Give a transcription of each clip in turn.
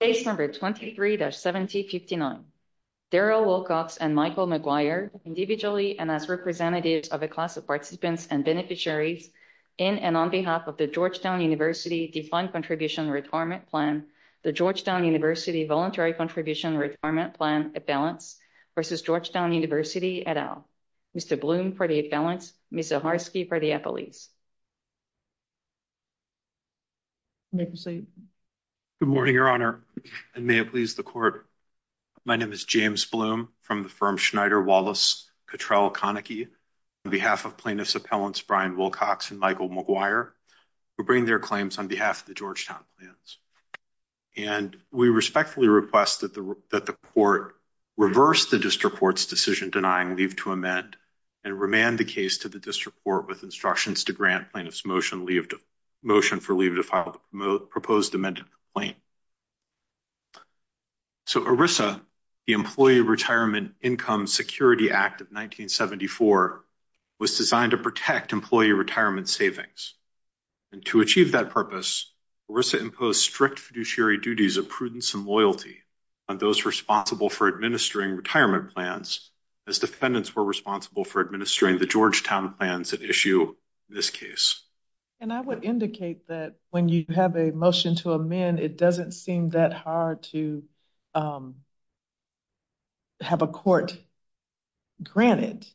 Case number 23-1759. Darrell Wilcox and Michael McGuire, individually and as representatives of a class of participants and beneficiaries in and on behalf of the Georgetown University Defined Contribution Retirement Plan, the Georgetown University Voluntary Contribution Retirement Plan, a balance, versus Georgetown University et al. Mr. Bloom for the balance, Ms. Zaharsky for the apologies. May proceed. Good morning, Your Honor, and may it please the court. My name is James Bloom from the firm Schneider-Wallace-Cattrell-Koenigke on behalf of plaintiffs' appellants, Brian Wilcox and Michael McGuire, who bring their claims on behalf of the Georgetown plans. And we respectfully request that the court reverse the district court's decision denying leave to amend and remand the case to the district court with instructions to grant plaintiffs' motion for leave to file the proposed amended claim. So ERISA, the Employee Retirement Income Security Act of 1974, was designed to protect employee retirement savings. And to achieve that purpose, ERISA imposed strict fiduciary duties of prudence and loyalty on those responsible for administering retirement plans, as defendants were responsible for administering the Georgetown plans that issue this case. And I would indicate that when you have a motion to amend, it doesn't seem that hard to have a court grant it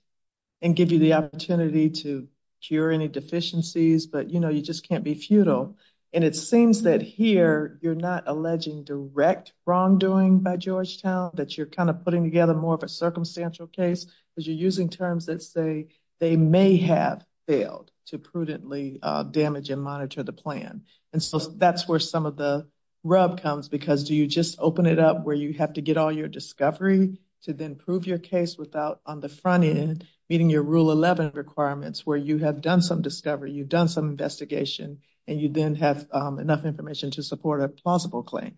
and give you the opportunity to cure any deficiencies, but you know, you just can't be futile. And it seems that here, you're not alleging direct wrongdoing by Georgetown, that you're kind of putting together more of a circumstantial case, because you're using terms that say they may have failed to prudently damage and monitor the plan. And so that's where some of the rub comes, because do you just open it up where you have to get all your discovery to then prove your case without on the front end, meeting your rule 11 requirements, where you have done some discovery, you've done some investigation, and you then have enough information to support a plausible claim?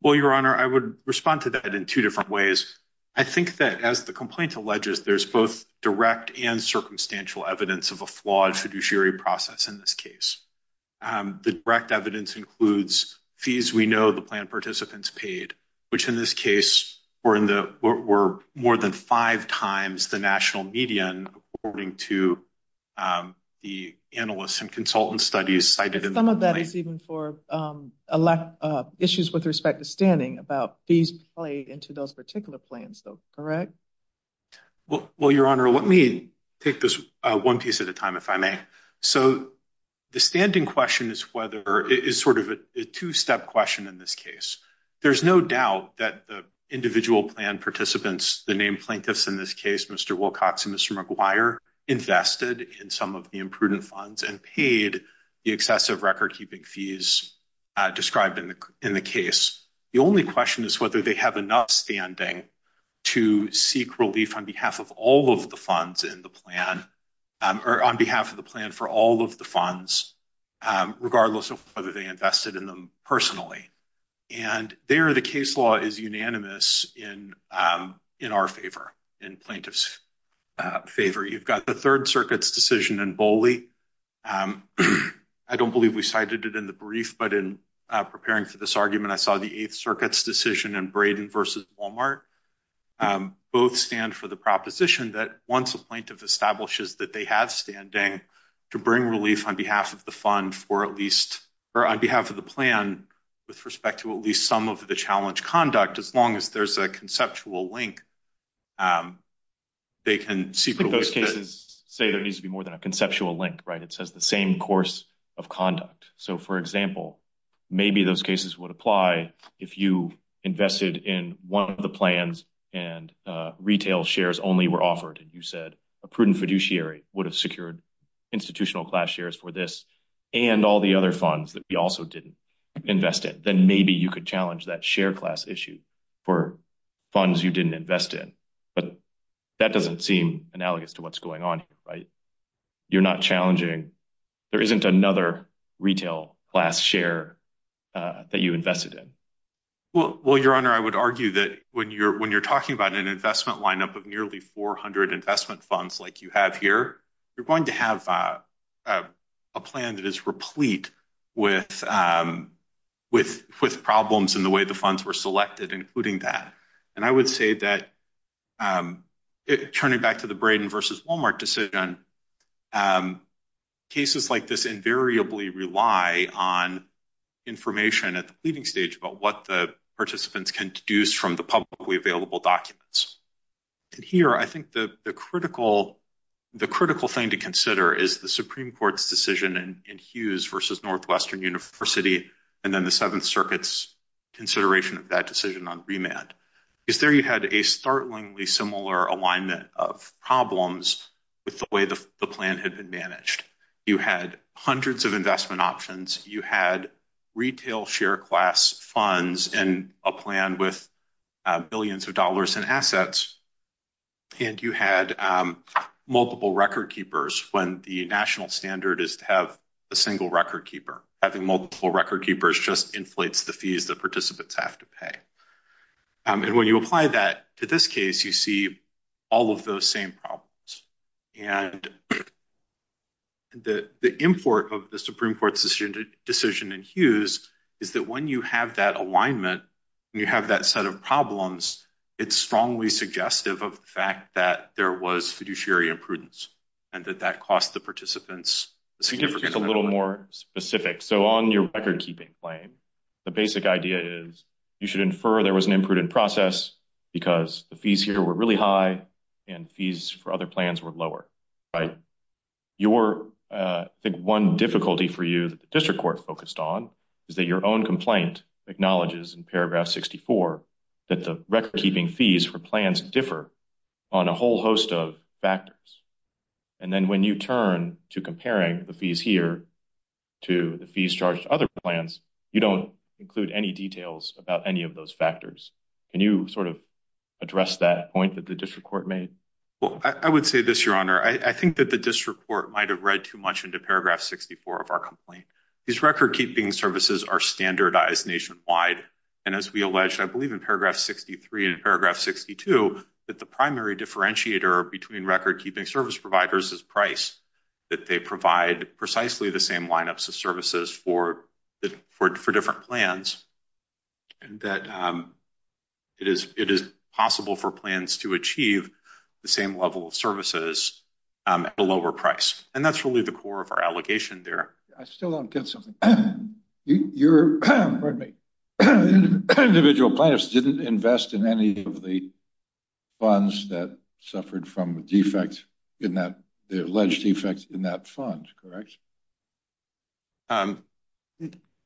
Well, Your Honor, I would respond to that in two different ways. I think that as the complaint alleges, there's both direct and circumstantial evidence of a flawed fiduciary process in this case. The direct evidence includes fees we know the plan participants paid, which in this case were more than five times the national median according to the analysts and consultant studies cited in the complaint. Some of that is even for issues with respect to standing about fees played into those particular plans though, correct? Well, Your Honor, let me take this one piece at a time if I may. So the standing question is whether, is sort of a two-step question in this case. There's no doubt that the individual plan participants, the named plaintiffs in this case, Mr. Wilcox and Mr. McGuire, invested in some of the imprudent funds and paid the excessive record-keeping fees described in the case. The only question is whether they have enough standing to seek relief on behalf of all of the funds in the plan or on behalf of the plan for all of the funds, regardless of whether they invested in them personally. And there the case law is unanimous in our favor, in plaintiff's favor. You've got the Third Circuit's decision in Boley. I don't believe we cited it in the brief, I saw the Eighth Circuit's decision in Braden versus Walmart. Both stand for the proposition that once a plaintiff establishes that they have standing to bring relief on behalf of the fund for at least, or on behalf of the plan with respect to at least some of the challenge conduct, as long as there's a conceptual link, they can seek- I think those cases say there needs to be more than a conceptual link, right? It says the same course of conduct. So for example, maybe those cases would apply if you invested in one of the plans and retail shares only were offered. And you said a prudent fiduciary would have secured institutional class shares for this and all the other funds that we also didn't invest in. Then maybe you could challenge that share class issue for funds you didn't invest in. But that doesn't seem analogous to what's going on here. You're not challenging. There isn't another retail class share that you invested in. Well, your honor, I would argue that when you're talking about an investment lineup of nearly 400 investment funds, like you have here, you're going to have a plan that is replete with problems in the way the funds were selected, including that. And I would say that turning back to the Braden versus Walmart decision, cases like this invariably rely on information at the leading stage about what the participants can deduce from the publicly available documents. And here, I think the critical thing to consider is the Supreme Court's decision in Hughes versus Northwestern University, and then the Seventh Circuit's consideration of that decision on remand. Is there you had a startlingly similar alignment of problems with the way the plan had been managed. You had hundreds of investment options. You had retail share class funds and a plan with billions of dollars in assets. And you had multiple record keepers when the national standard is to have a single record keeper. Having multiple record keepers just inflates the fees that participants have to pay. And when you apply that to this case, you see all of those same problems. And the import of the Supreme Court's decision in Hughes is that when you have that alignment and you have that set of problems, it's strongly suggestive of the fact that there was fiduciary imprudence and that that cost the participants. So give us a little more specific. So on your record keeping claim, the basic idea is you should infer there was an imprudent process because the fees here were really high and fees for other plans were lower, right? Your, I think one difficulty for you that the district court focused on is that your own complaint acknowledges in paragraph 64 that the record keeping fees for plans differ on a whole host of factors. And then when you turn to comparing the fees here to the fees charged to other plans, you don't include any details about any of those factors. Can you sort of address that point that the district court made? Well, I would say this, your honor. I think that the district court might've read too much into paragraph 64 of our complaint. These record keeping services are standardized nationwide. And as we alleged, I believe in paragraph 63 and paragraph 62, that the primary differentiator between record keeping service providers is price, that they provide precisely the same lineups of services for different plans. And that it is possible for plans to achieve the same level of services at a lower price. And that's really the core of our allegation there. I still don't get something. You're, pardon me, individual planners didn't invest in any of the funds that suffered from defects in that, the alleged defects in that fund, correct?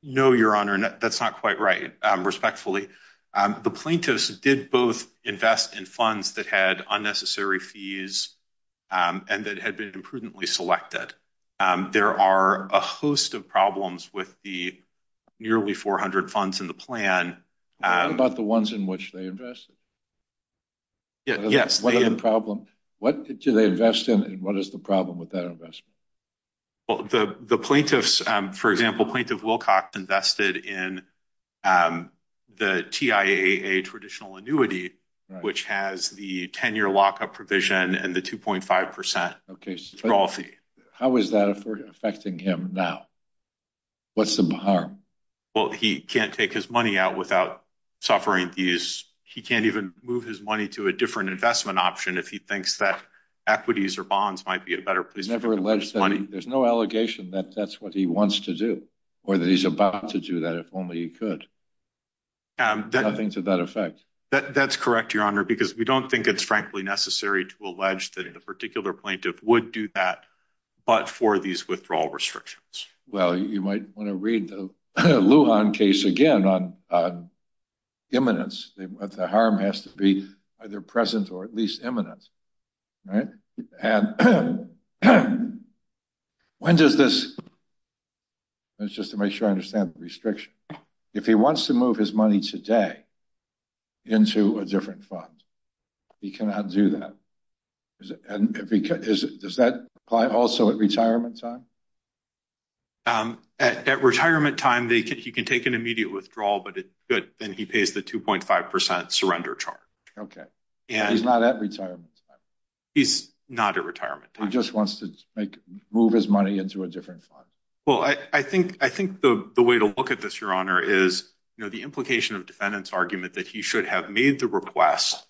No, your honor, that's not quite right, respectfully. The plaintiffs did both invest in funds that had unnecessary fees and that had been imprudently selected. There are a host of problems with the nearly 400 funds in the plan. What about the ones in which they invested? Yes. What are the problem? What do they invest in and what is the problem with that investment? Well, the plaintiffs, for example, Plaintiff Wilcox invested in the TIAA traditional annuity, which has the 10-year lockup provision and the 2.5% withdrawal fee. How is that affecting him now? What's the harm? Well, he can't take his money out without suffering these. He can't even move his money to a different investment option if he thinks that equities or bonds might be a better place for him. There's no allegation that that's what he wants to do or that he's about to do that, if only he could. Nothing to that effect. That's correct, your honor, because we don't think it's frankly necessary to allege that a particular plaintiff would do that, but for these withdrawal restrictions. Well, you might want to read the Lujan case again on imminence. The harm has to be either present or at least imminent. When does this, just to make sure I understand the restriction, if he wants to move his money today into a different fund, he cannot do that? Does that apply also at retirement time? At retirement time, he can take an immediate withdrawal, but then he pays the 2.5% surrender charge. Okay, he's not at retirement time. He's not at retirement time. He just wants to move his money into a different fund. Well, I think the way to look at this, your honor, is the implication of defendant's argument that he should have made the request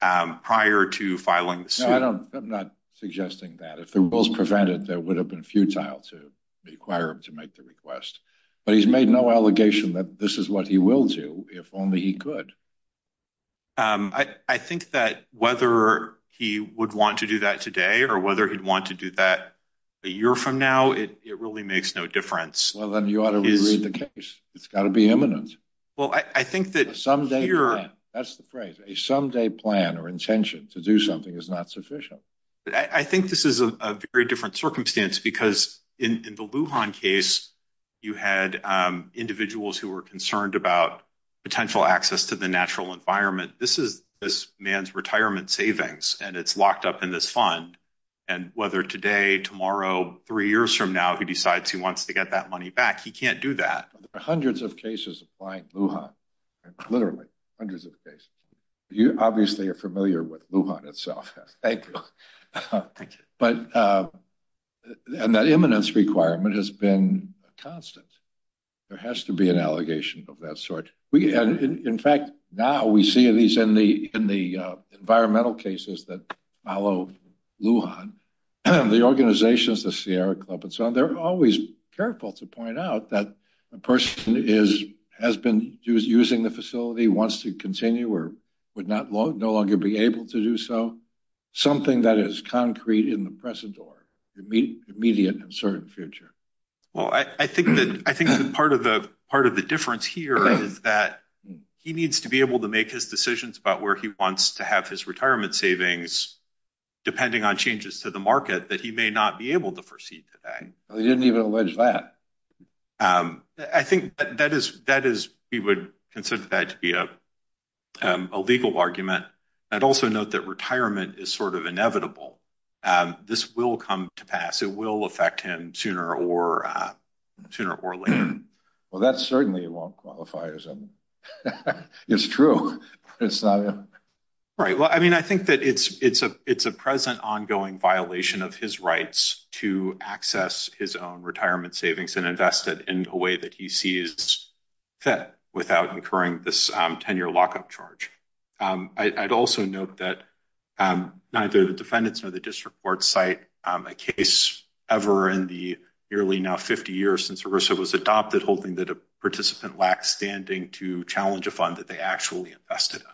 prior to filing the suit. No, I'm not suggesting that. If the rules prevented, that would have been futile to require him to make the request, but he's made no allegation that this is what he will do, if only he could. I think that whether he would want to do that today or whether he'd want to do that a year from now, it really makes no difference. Well, then you ought to reread the case. It's got to be imminent. Well, I think that here- A someday plan. That's the phrase, a someday plan or intention to do something is not sufficient. I think this is a very different circumstance because in the Lujan case, you had individuals who were concerned about potential access to the natural environment. This is this man's retirement savings, and it's locked up in this fund. And whether today, tomorrow, three years from now, he decides he wants to get that money back, he can't do that. There are hundreds of cases applying Lujan, literally hundreds of cases. You obviously are familiar with Lujan itself. Thank you. But, and that imminence requirement has been constant. There has to be an allegation of that sort. In fact, now we see these in the environmental cases that follow Lujan. The organizations, the Sierra Club and so on, they're always careful to point out that a person has been using the facility, wants to continue or would no longer be able to do so. Something that is concrete in the present or immediate and certain future. Well, I think that part of the difference here is that he needs to be able to make his decisions about where he wants to have his retirement savings, depending on changes to the market that he may not be able to foresee today. They didn't even allege that. I think that is, we would consider that to be a legal argument. I'd also note that retirement is sort of inevitable. This will come to pass. It will affect him sooner or later. Well, that certainly won't qualify as a, it's true, but it's not. Right, well, I mean, I think that it's a present ongoing violation of his rights to access his own retirement savings and invest it in a way that he sees fit without incurring this 10-year lockup charge. I'd also note that neither the defendants nor the district court cite a case ever in the nearly now 50 years since ERISA was adopted holding that a participant lacked standing to challenge a fund that they actually invested in.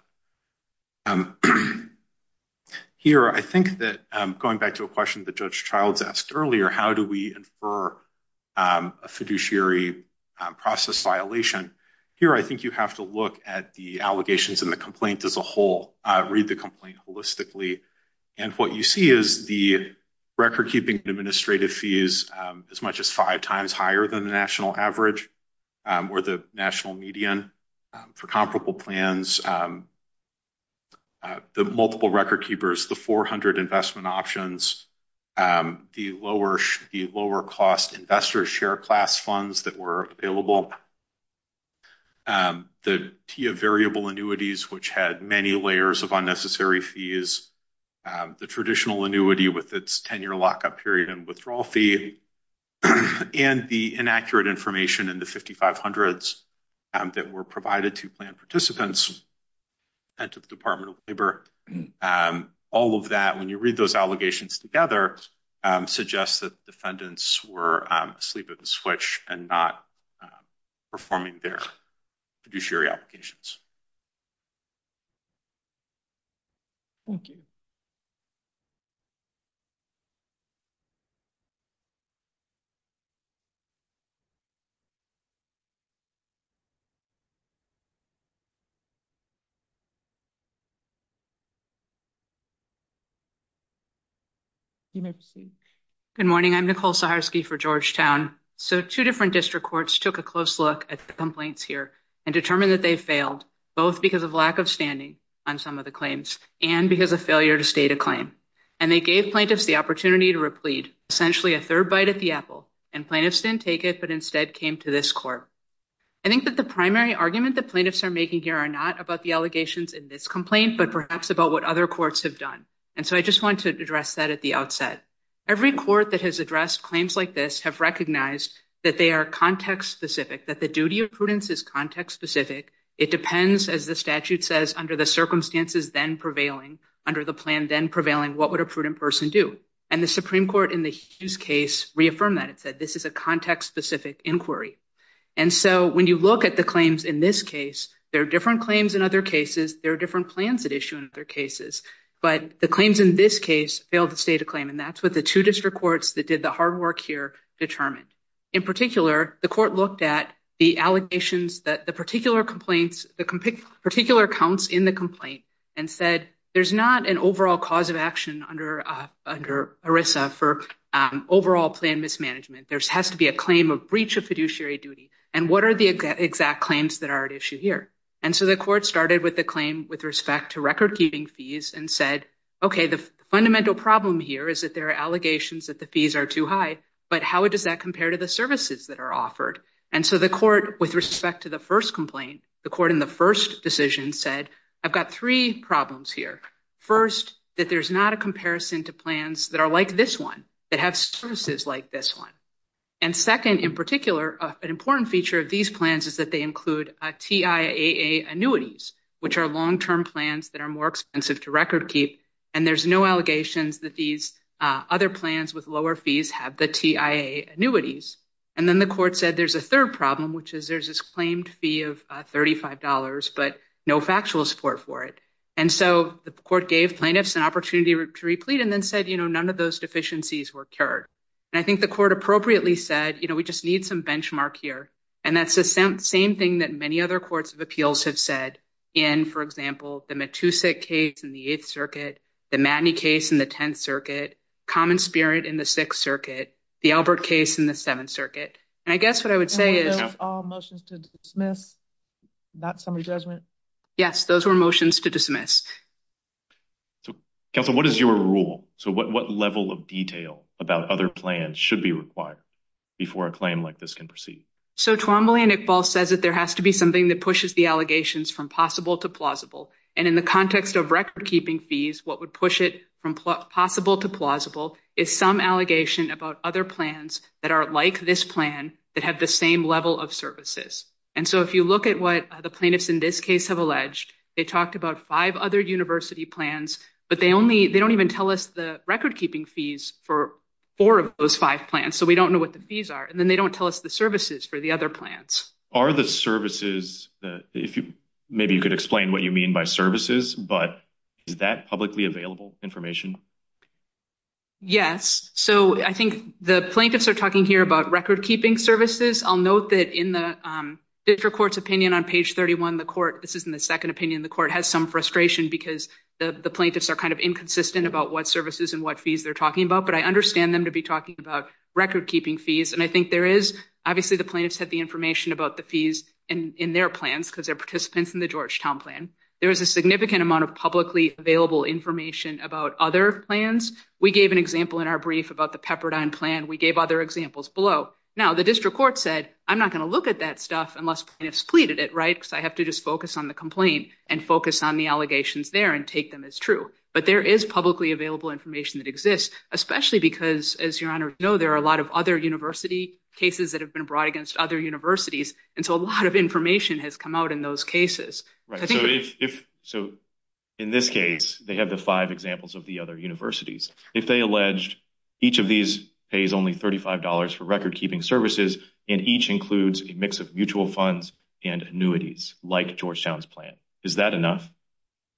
Here, I think that going back to a question that Judge Childs asked earlier, how do we infer a fiduciary process violation? Here, I think you have to look at the allegations and the complaint as a whole, read the complaint holistically. And what you see is the record-keeping administrative fees as much as five times higher than the national average or the national median for comparable plans, the multiple record keepers, the 400 investment options, the lower cost investor share class funds that were available, the TIA variable annuities, which had many layers of unnecessary fees, the traditional annuity with its 10-year lockup period and withdrawal fee, and the inaccurate information in the 5,500s that were provided to plan participants and to the Department of Labor. All of that, when you read those allegations together, suggests that defendants were asleep at the switch and not performing their fiduciary applications. Thank you. You may proceed. Good morning, I'm Nicole Saharsky for Georgetown. So two different district courts took a close look at the complaints here and determined that they failed. Both because of lack of standing on some of the claims and because of failure to state a claim. And they gave plaintiffs the opportunity to replead, essentially a third bite at the apple, and plaintiffs didn't take it, but instead came to this court. I think that the primary argument that plaintiffs are making here are not about the allegations in this complaint, but perhaps about what other courts have done. And so I just wanted to address that at the outset. Every court that has addressed claims like this have recognized that they are context-specific, that the duty of prudence is context-specific. It depends, as the statute says, under the circumstances then prevailing, under the plan then prevailing, what would a prudent person do? And the Supreme Court in the Hughes case reaffirmed that. It said, this is a context-specific inquiry. And so when you look at the claims in this case, there are different claims in other cases, there are different plans at issue in other cases, but the claims in this case failed to state a claim. And that's what the two district courts that did the hard work here determined. In particular, the court looked at the allegations that the particular complaints, the particular counts in the complaint, and said, there's not an overall cause of action under ERISA for overall plan mismanagement. There has to be a claim of breach of fiduciary duty. And what are the exact claims that are at issue here? And so the court started with the claim with respect to record-keeping fees, and said, okay, the fundamental problem here is that there are allegations that the fees are too high, but how does that compare to the services that are offered? And so the court, with respect to the first complaint, the court in the first decision said, I've got three problems here. First, that there's not a comparison to plans that are like this one, that have services like this one. And second, in particular, an important feature of these plans is that they include TIAA annuities, which are long-term plans that are more expensive to record-keep, and there's no allegations that these other plans with lower fees have the TIAA annuities. And then the court said there's a third problem, which is there's this claimed fee of $35, but no factual support for it. And so the court gave plaintiffs an opportunity to replete and then said, you know, none of those deficiencies were cured. And I think the court appropriately said, you know, we just need some benchmark here. And that's the same thing that many other courts of appeals have said, in, for example, the Matusik case in the Eighth Circuit, the Matney case in the Tenth Circuit, Common Spirit in the Sixth Circuit, the Albert case in the Seventh Circuit. And I guess what I would say is- And were those all motions to dismiss, not summary judgment? Yes, those were motions to dismiss. So, Counsel, what is your rule? So what level of detail about other plans should be required before a claim like this can proceed? So Twombly and Iqbal says that there has to be something that pushes the allegations from possible to plausible. And in the context of record-keeping fees, what would push it from possible to plausible is some allegation about other plans that are like this plan, that have the same level of services. And so if you look at what the plaintiffs in this case have alleged, they talked about five other university plans, but they don't even tell us the record-keeping fees for four of those five plans. So we don't know what the fees are. And then they don't tell us the services for the other plans. Are the services, maybe you could explain what you mean by services, but is that publicly available information? Yes. So I think the plaintiffs are talking here about record-keeping services. I'll note that in the district court's opinion on page 31, the court, this is in the second opinion, the court has some frustration because the plaintiffs are kind of inconsistent about what services and what fees they're talking about. But I understand them to be talking about record-keeping fees. And I think there is, obviously the plaintiffs had the information about the fees in their plans because they're participants in the Georgetown plan. There is a significant amount of publicly available information about other plans. We gave an example in our brief about the Pepperdine plan. We gave other examples below. Now the district court said, I'm not gonna look at that stuff unless plaintiffs pleaded it, right? Because I have to just focus on the complaint and focus on the allegations there and take them as true. But there is publicly available information that exists, especially because as your honor know, there are a lot of other university cases that have been brought against other universities. And so a lot of information has come out in those cases. Right, so in this case, they have the five examples of the other universities. If they alleged each of these pays only $35 for record-keeping services, and each includes a mix of mutual funds and annuities like Georgetown's plan, is that enough?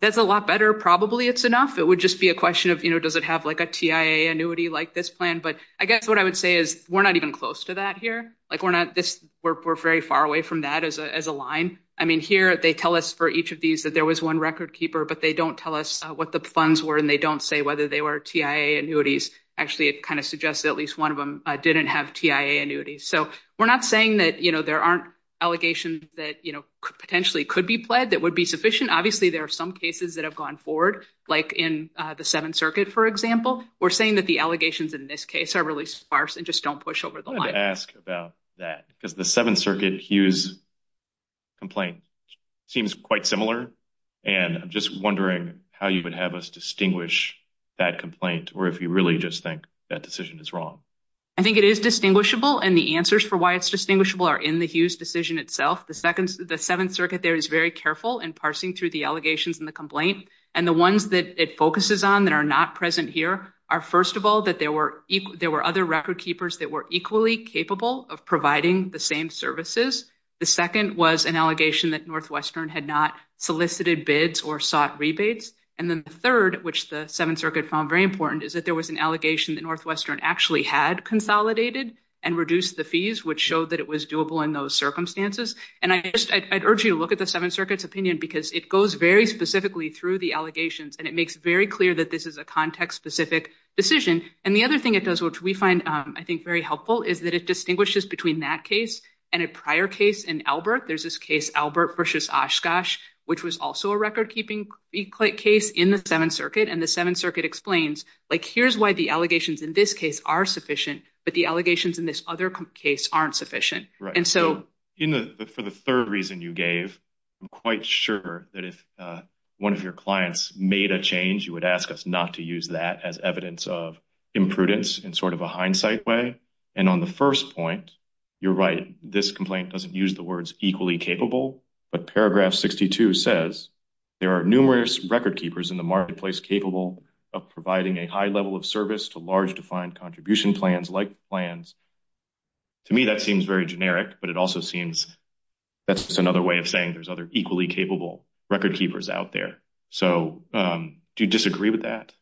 That's a lot better. Probably it's enough. It would just be a question of, does it have like a TIA annuity like this plan? But I guess what I would say is we're not even close to that here. Like we're not this, we're very far away from that as a line. I mean, here they tell us for each of these that there was one record keeper, but they don't tell us what the funds were and they don't say whether they were TIA annuities. Actually, it kind of suggests that at least one of them didn't have TIA annuities. So we're not saying that, you know, there aren't allegations that, you know, potentially could be pled that would be sufficient. Obviously, there are some cases that have gone forward, like in the Seventh Circuit, for example. We're saying that the allegations in this case are really sparse and just don't push over the line. I wanted to ask about that, because the Seventh Circuit Hughes complaint seems quite similar. And I'm just wondering how you would have us distinguish that complaint, or if you really just think that decision is wrong. I think it is distinguishable and the answers for why it's distinguishable are in the Hughes decision itself. The Seventh Circuit there is very careful in parsing through the allegations in the complaint. And the ones that it focuses on that are not present here are first of all, that there were other record keepers that were equally capable of providing the same services. The second was an allegation that Northwestern had not solicited bids or sought rebates. And then the third, which the Seventh Circuit found very important is that there was an allegation that Northwestern actually had consolidated and reduced the fees, which showed that it was doable in those circumstances. And I urge you to look at the Seventh Circuit's opinion, because it goes very specifically through the allegations and it makes very clear that this is a context-specific decision. And the other thing it does, which we find, I think, very helpful is that it distinguishes between that case and a prior case in Albert. There's this case, Albert versus Oshkosh, which was also a record-keeping case in the Seventh Circuit. And the Seventh Circuit explains, like here's why the allegations in this case are sufficient, but the allegations in this other case aren't sufficient. And so- For the third reason you gave, I'm quite sure that if one of your clients made a change, you would ask us not to use that as evidence of imprudence in sort of a hindsight way. And on the first point, you're right. This complaint doesn't use the words equally capable, but paragraph 62 says, there are numerous record keepers in the marketplace capable of providing a high level of service to large defined contribution plans like plans. To me, that seems very generic, but it also seems that's just another way of saying there's other equally capable record keepers out there. So do you disagree with that?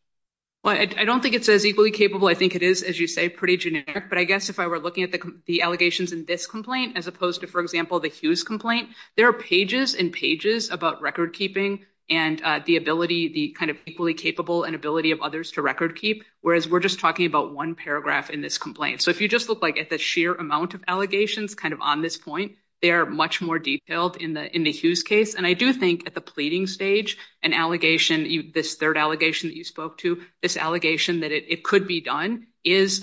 Well, I don't think it says equally capable. I think it is, as you say, pretty generic, but I guess if I were looking at the allegations in this complaint, as opposed to, for example, the Hughes complaint, there are pages and pages about record keeping and the ability, the kind of equally capable and ability of others to record keep, whereas we're just talking about one paragraph in this complaint. So if you just look like at the sheer amount of allegations kind of on this point, they are much more detailed in the Hughes case. And I do think at the pleading stage, an allegation, this third allegation that you spoke to, this allegation that it could be done is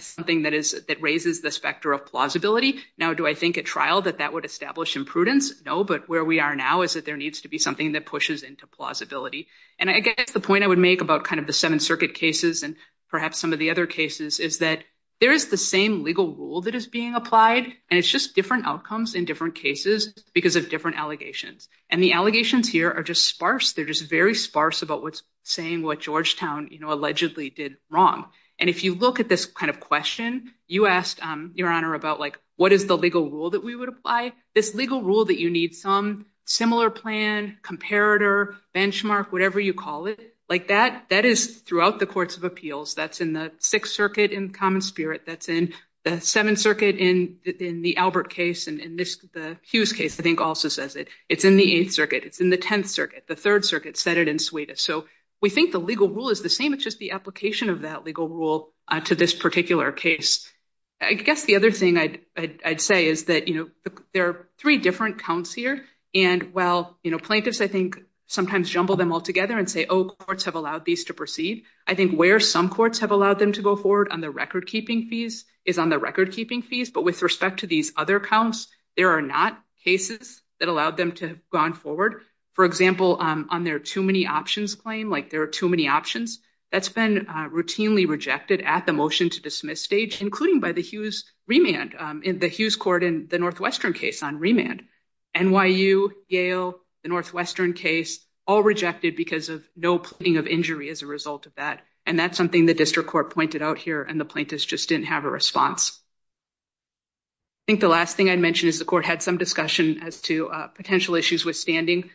something that raises this factor of plausibility. Now, do I think at trial that that would establish imprudence? No, but where we are now is that there needs to be something that pushes into plausibility. And I guess the point I would make about kind of the Seventh Circuit cases and perhaps some of the other cases is that there is the same legal rule that is being applied, and it's just different outcomes in different cases because of different allegations. And the allegations here are just sparse. They're just very sparse about what's saying what Georgetown allegedly did wrong. And if you look at this kind of question, you asked, Your Honor, about like what is the legal rule that we would apply? This legal rule that you need some similar plan, comparator, benchmark, whatever you call it, like that is throughout the courts of appeals. That's in the Sixth Circuit in common spirit. That's in the Seventh Circuit in the Albert case and in the Hughes case, I think also says it. It's in the Eighth Circuit. It's in the Tenth Circuit. The Third Circuit said it in Suedas. So we think the legal rule is the same. It's just the application of that legal rule to this particular case. I guess the other thing I'd say is that there are three different counts here. And while plaintiffs, I think, sometimes jumble them all together and say, oh, courts have allowed these to proceed. I think where some courts have allowed them to go forward on the record-keeping fees is on the record-keeping fees. But with respect to these other counts, there are not cases that allowed them to have gone forward. For example, on their too many options claim, like there are too many options, that's been routinely rejected at the motion-to-dismiss stage, including by the Hughes remand, in the Hughes court in the Northwestern case on remand. NYU, Yale, the Northwestern case, all rejected because of no pleading of injury as a result of that. And that's something the district court pointed out here and the plaintiffs just didn't have a response. I think the last thing I'd mention as to potential issues with standing.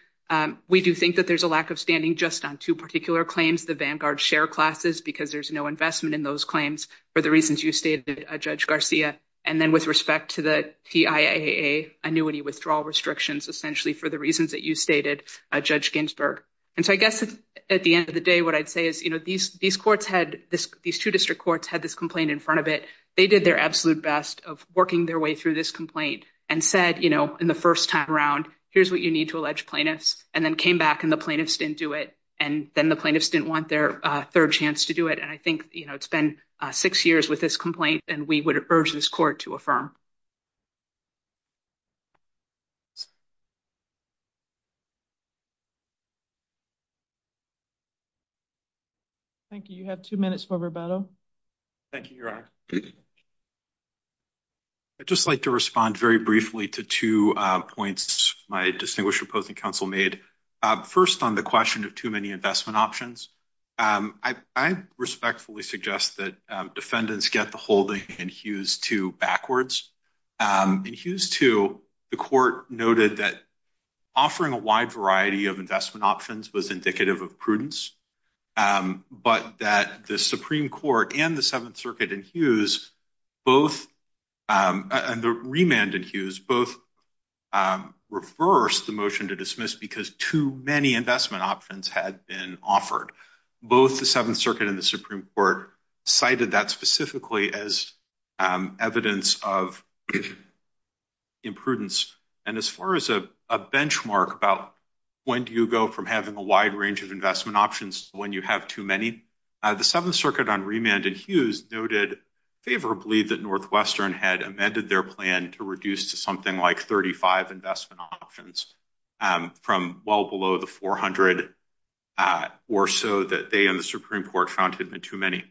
We do think that there's a lack of standing just on two particular claims, the Vanguard share classes, because there's no investment in those claims for the reasons you stated, Judge Garcia. And then with respect to the TIAA annuity withdrawal restrictions, essentially for the reasons that you stated, Judge Ginsburg. And so I guess at the end of the day, what I'd say is these courts had, these two district courts had this complaint in front of it. They did their absolute best of working their way through this complaint and said in the first time around, here's what you need to allege plaintiffs and then came back and the plaintiffs didn't do it. And then the plaintiffs didn't want their third chance to do it. And I think it's been six years with this complaint and we would urge this court to affirm. Thank you. You have two minutes for rebuttal. Thank you, Your Honor. I'd just like to respond very briefly to two points my distinguished opposing counsel made. First on the question of too many investment options. I respectfully suggest that defendants get the holding in Hughes II backwards. In Hughes II, the court noted that offering a wide variety of investment options was indicative of prudence, but that the Supreme Court and the Seventh Circuit in Hughes both, and the remand in Hughes, both reversed the motion to dismiss because too many investment options had been offered. Both the Seventh Circuit and the Supreme Court cited that specifically as evidence of imprudence. And as far as a benchmark about when do you go from having a wide range of investment options when you have too many, the Seventh Circuit on remand in Hughes noted favorably that Northwestern had amended their plan to reduce to something like 35 investment options from well below the 400 or so that they and the Supreme Court found had been too many.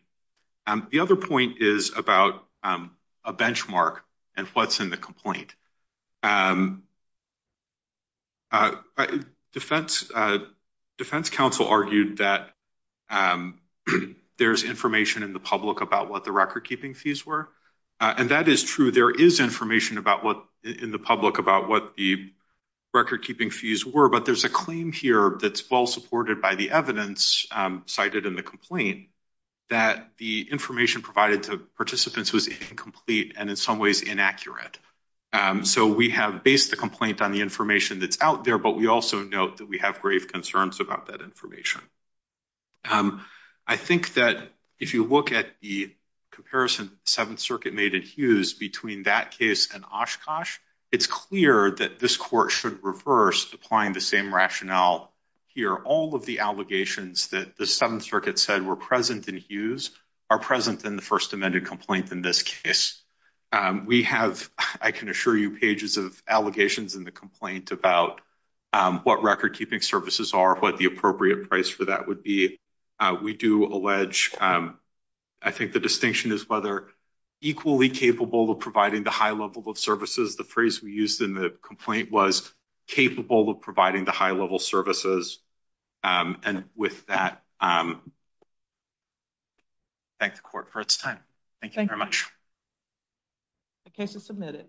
The other point is about a benchmark and what's in the complaint. Defense counsel argued that there's information in the public about what the record keeping fees were. And that is true. There is information in the public about what the record keeping fees were, but there's a claim here that's well supported by the evidence cited in the complaint that the information provided to participants was incomplete and in some ways inaccurate. So we have based the complaint on the information that's out there, but we also note that we have grave concerns about that information. I think that if you look at the comparison Seventh Circuit made in Hughes between that case and Oshkosh, it's clear that this court should reverse applying the same rationale here. All of the allegations that the Seventh Circuit said were present in Hughes are present in the first amended complaint in this case. We have, I can assure you, pages of allegations in the complaint about what record keeping services are, what the appropriate price for that would be. We do allege, I think the distinction is whether equally capable of providing the high level of services. The phrase we used in the complaint was capable of providing the high level services. And with that, thank the court for its time. Thank you very much. The case is submitted.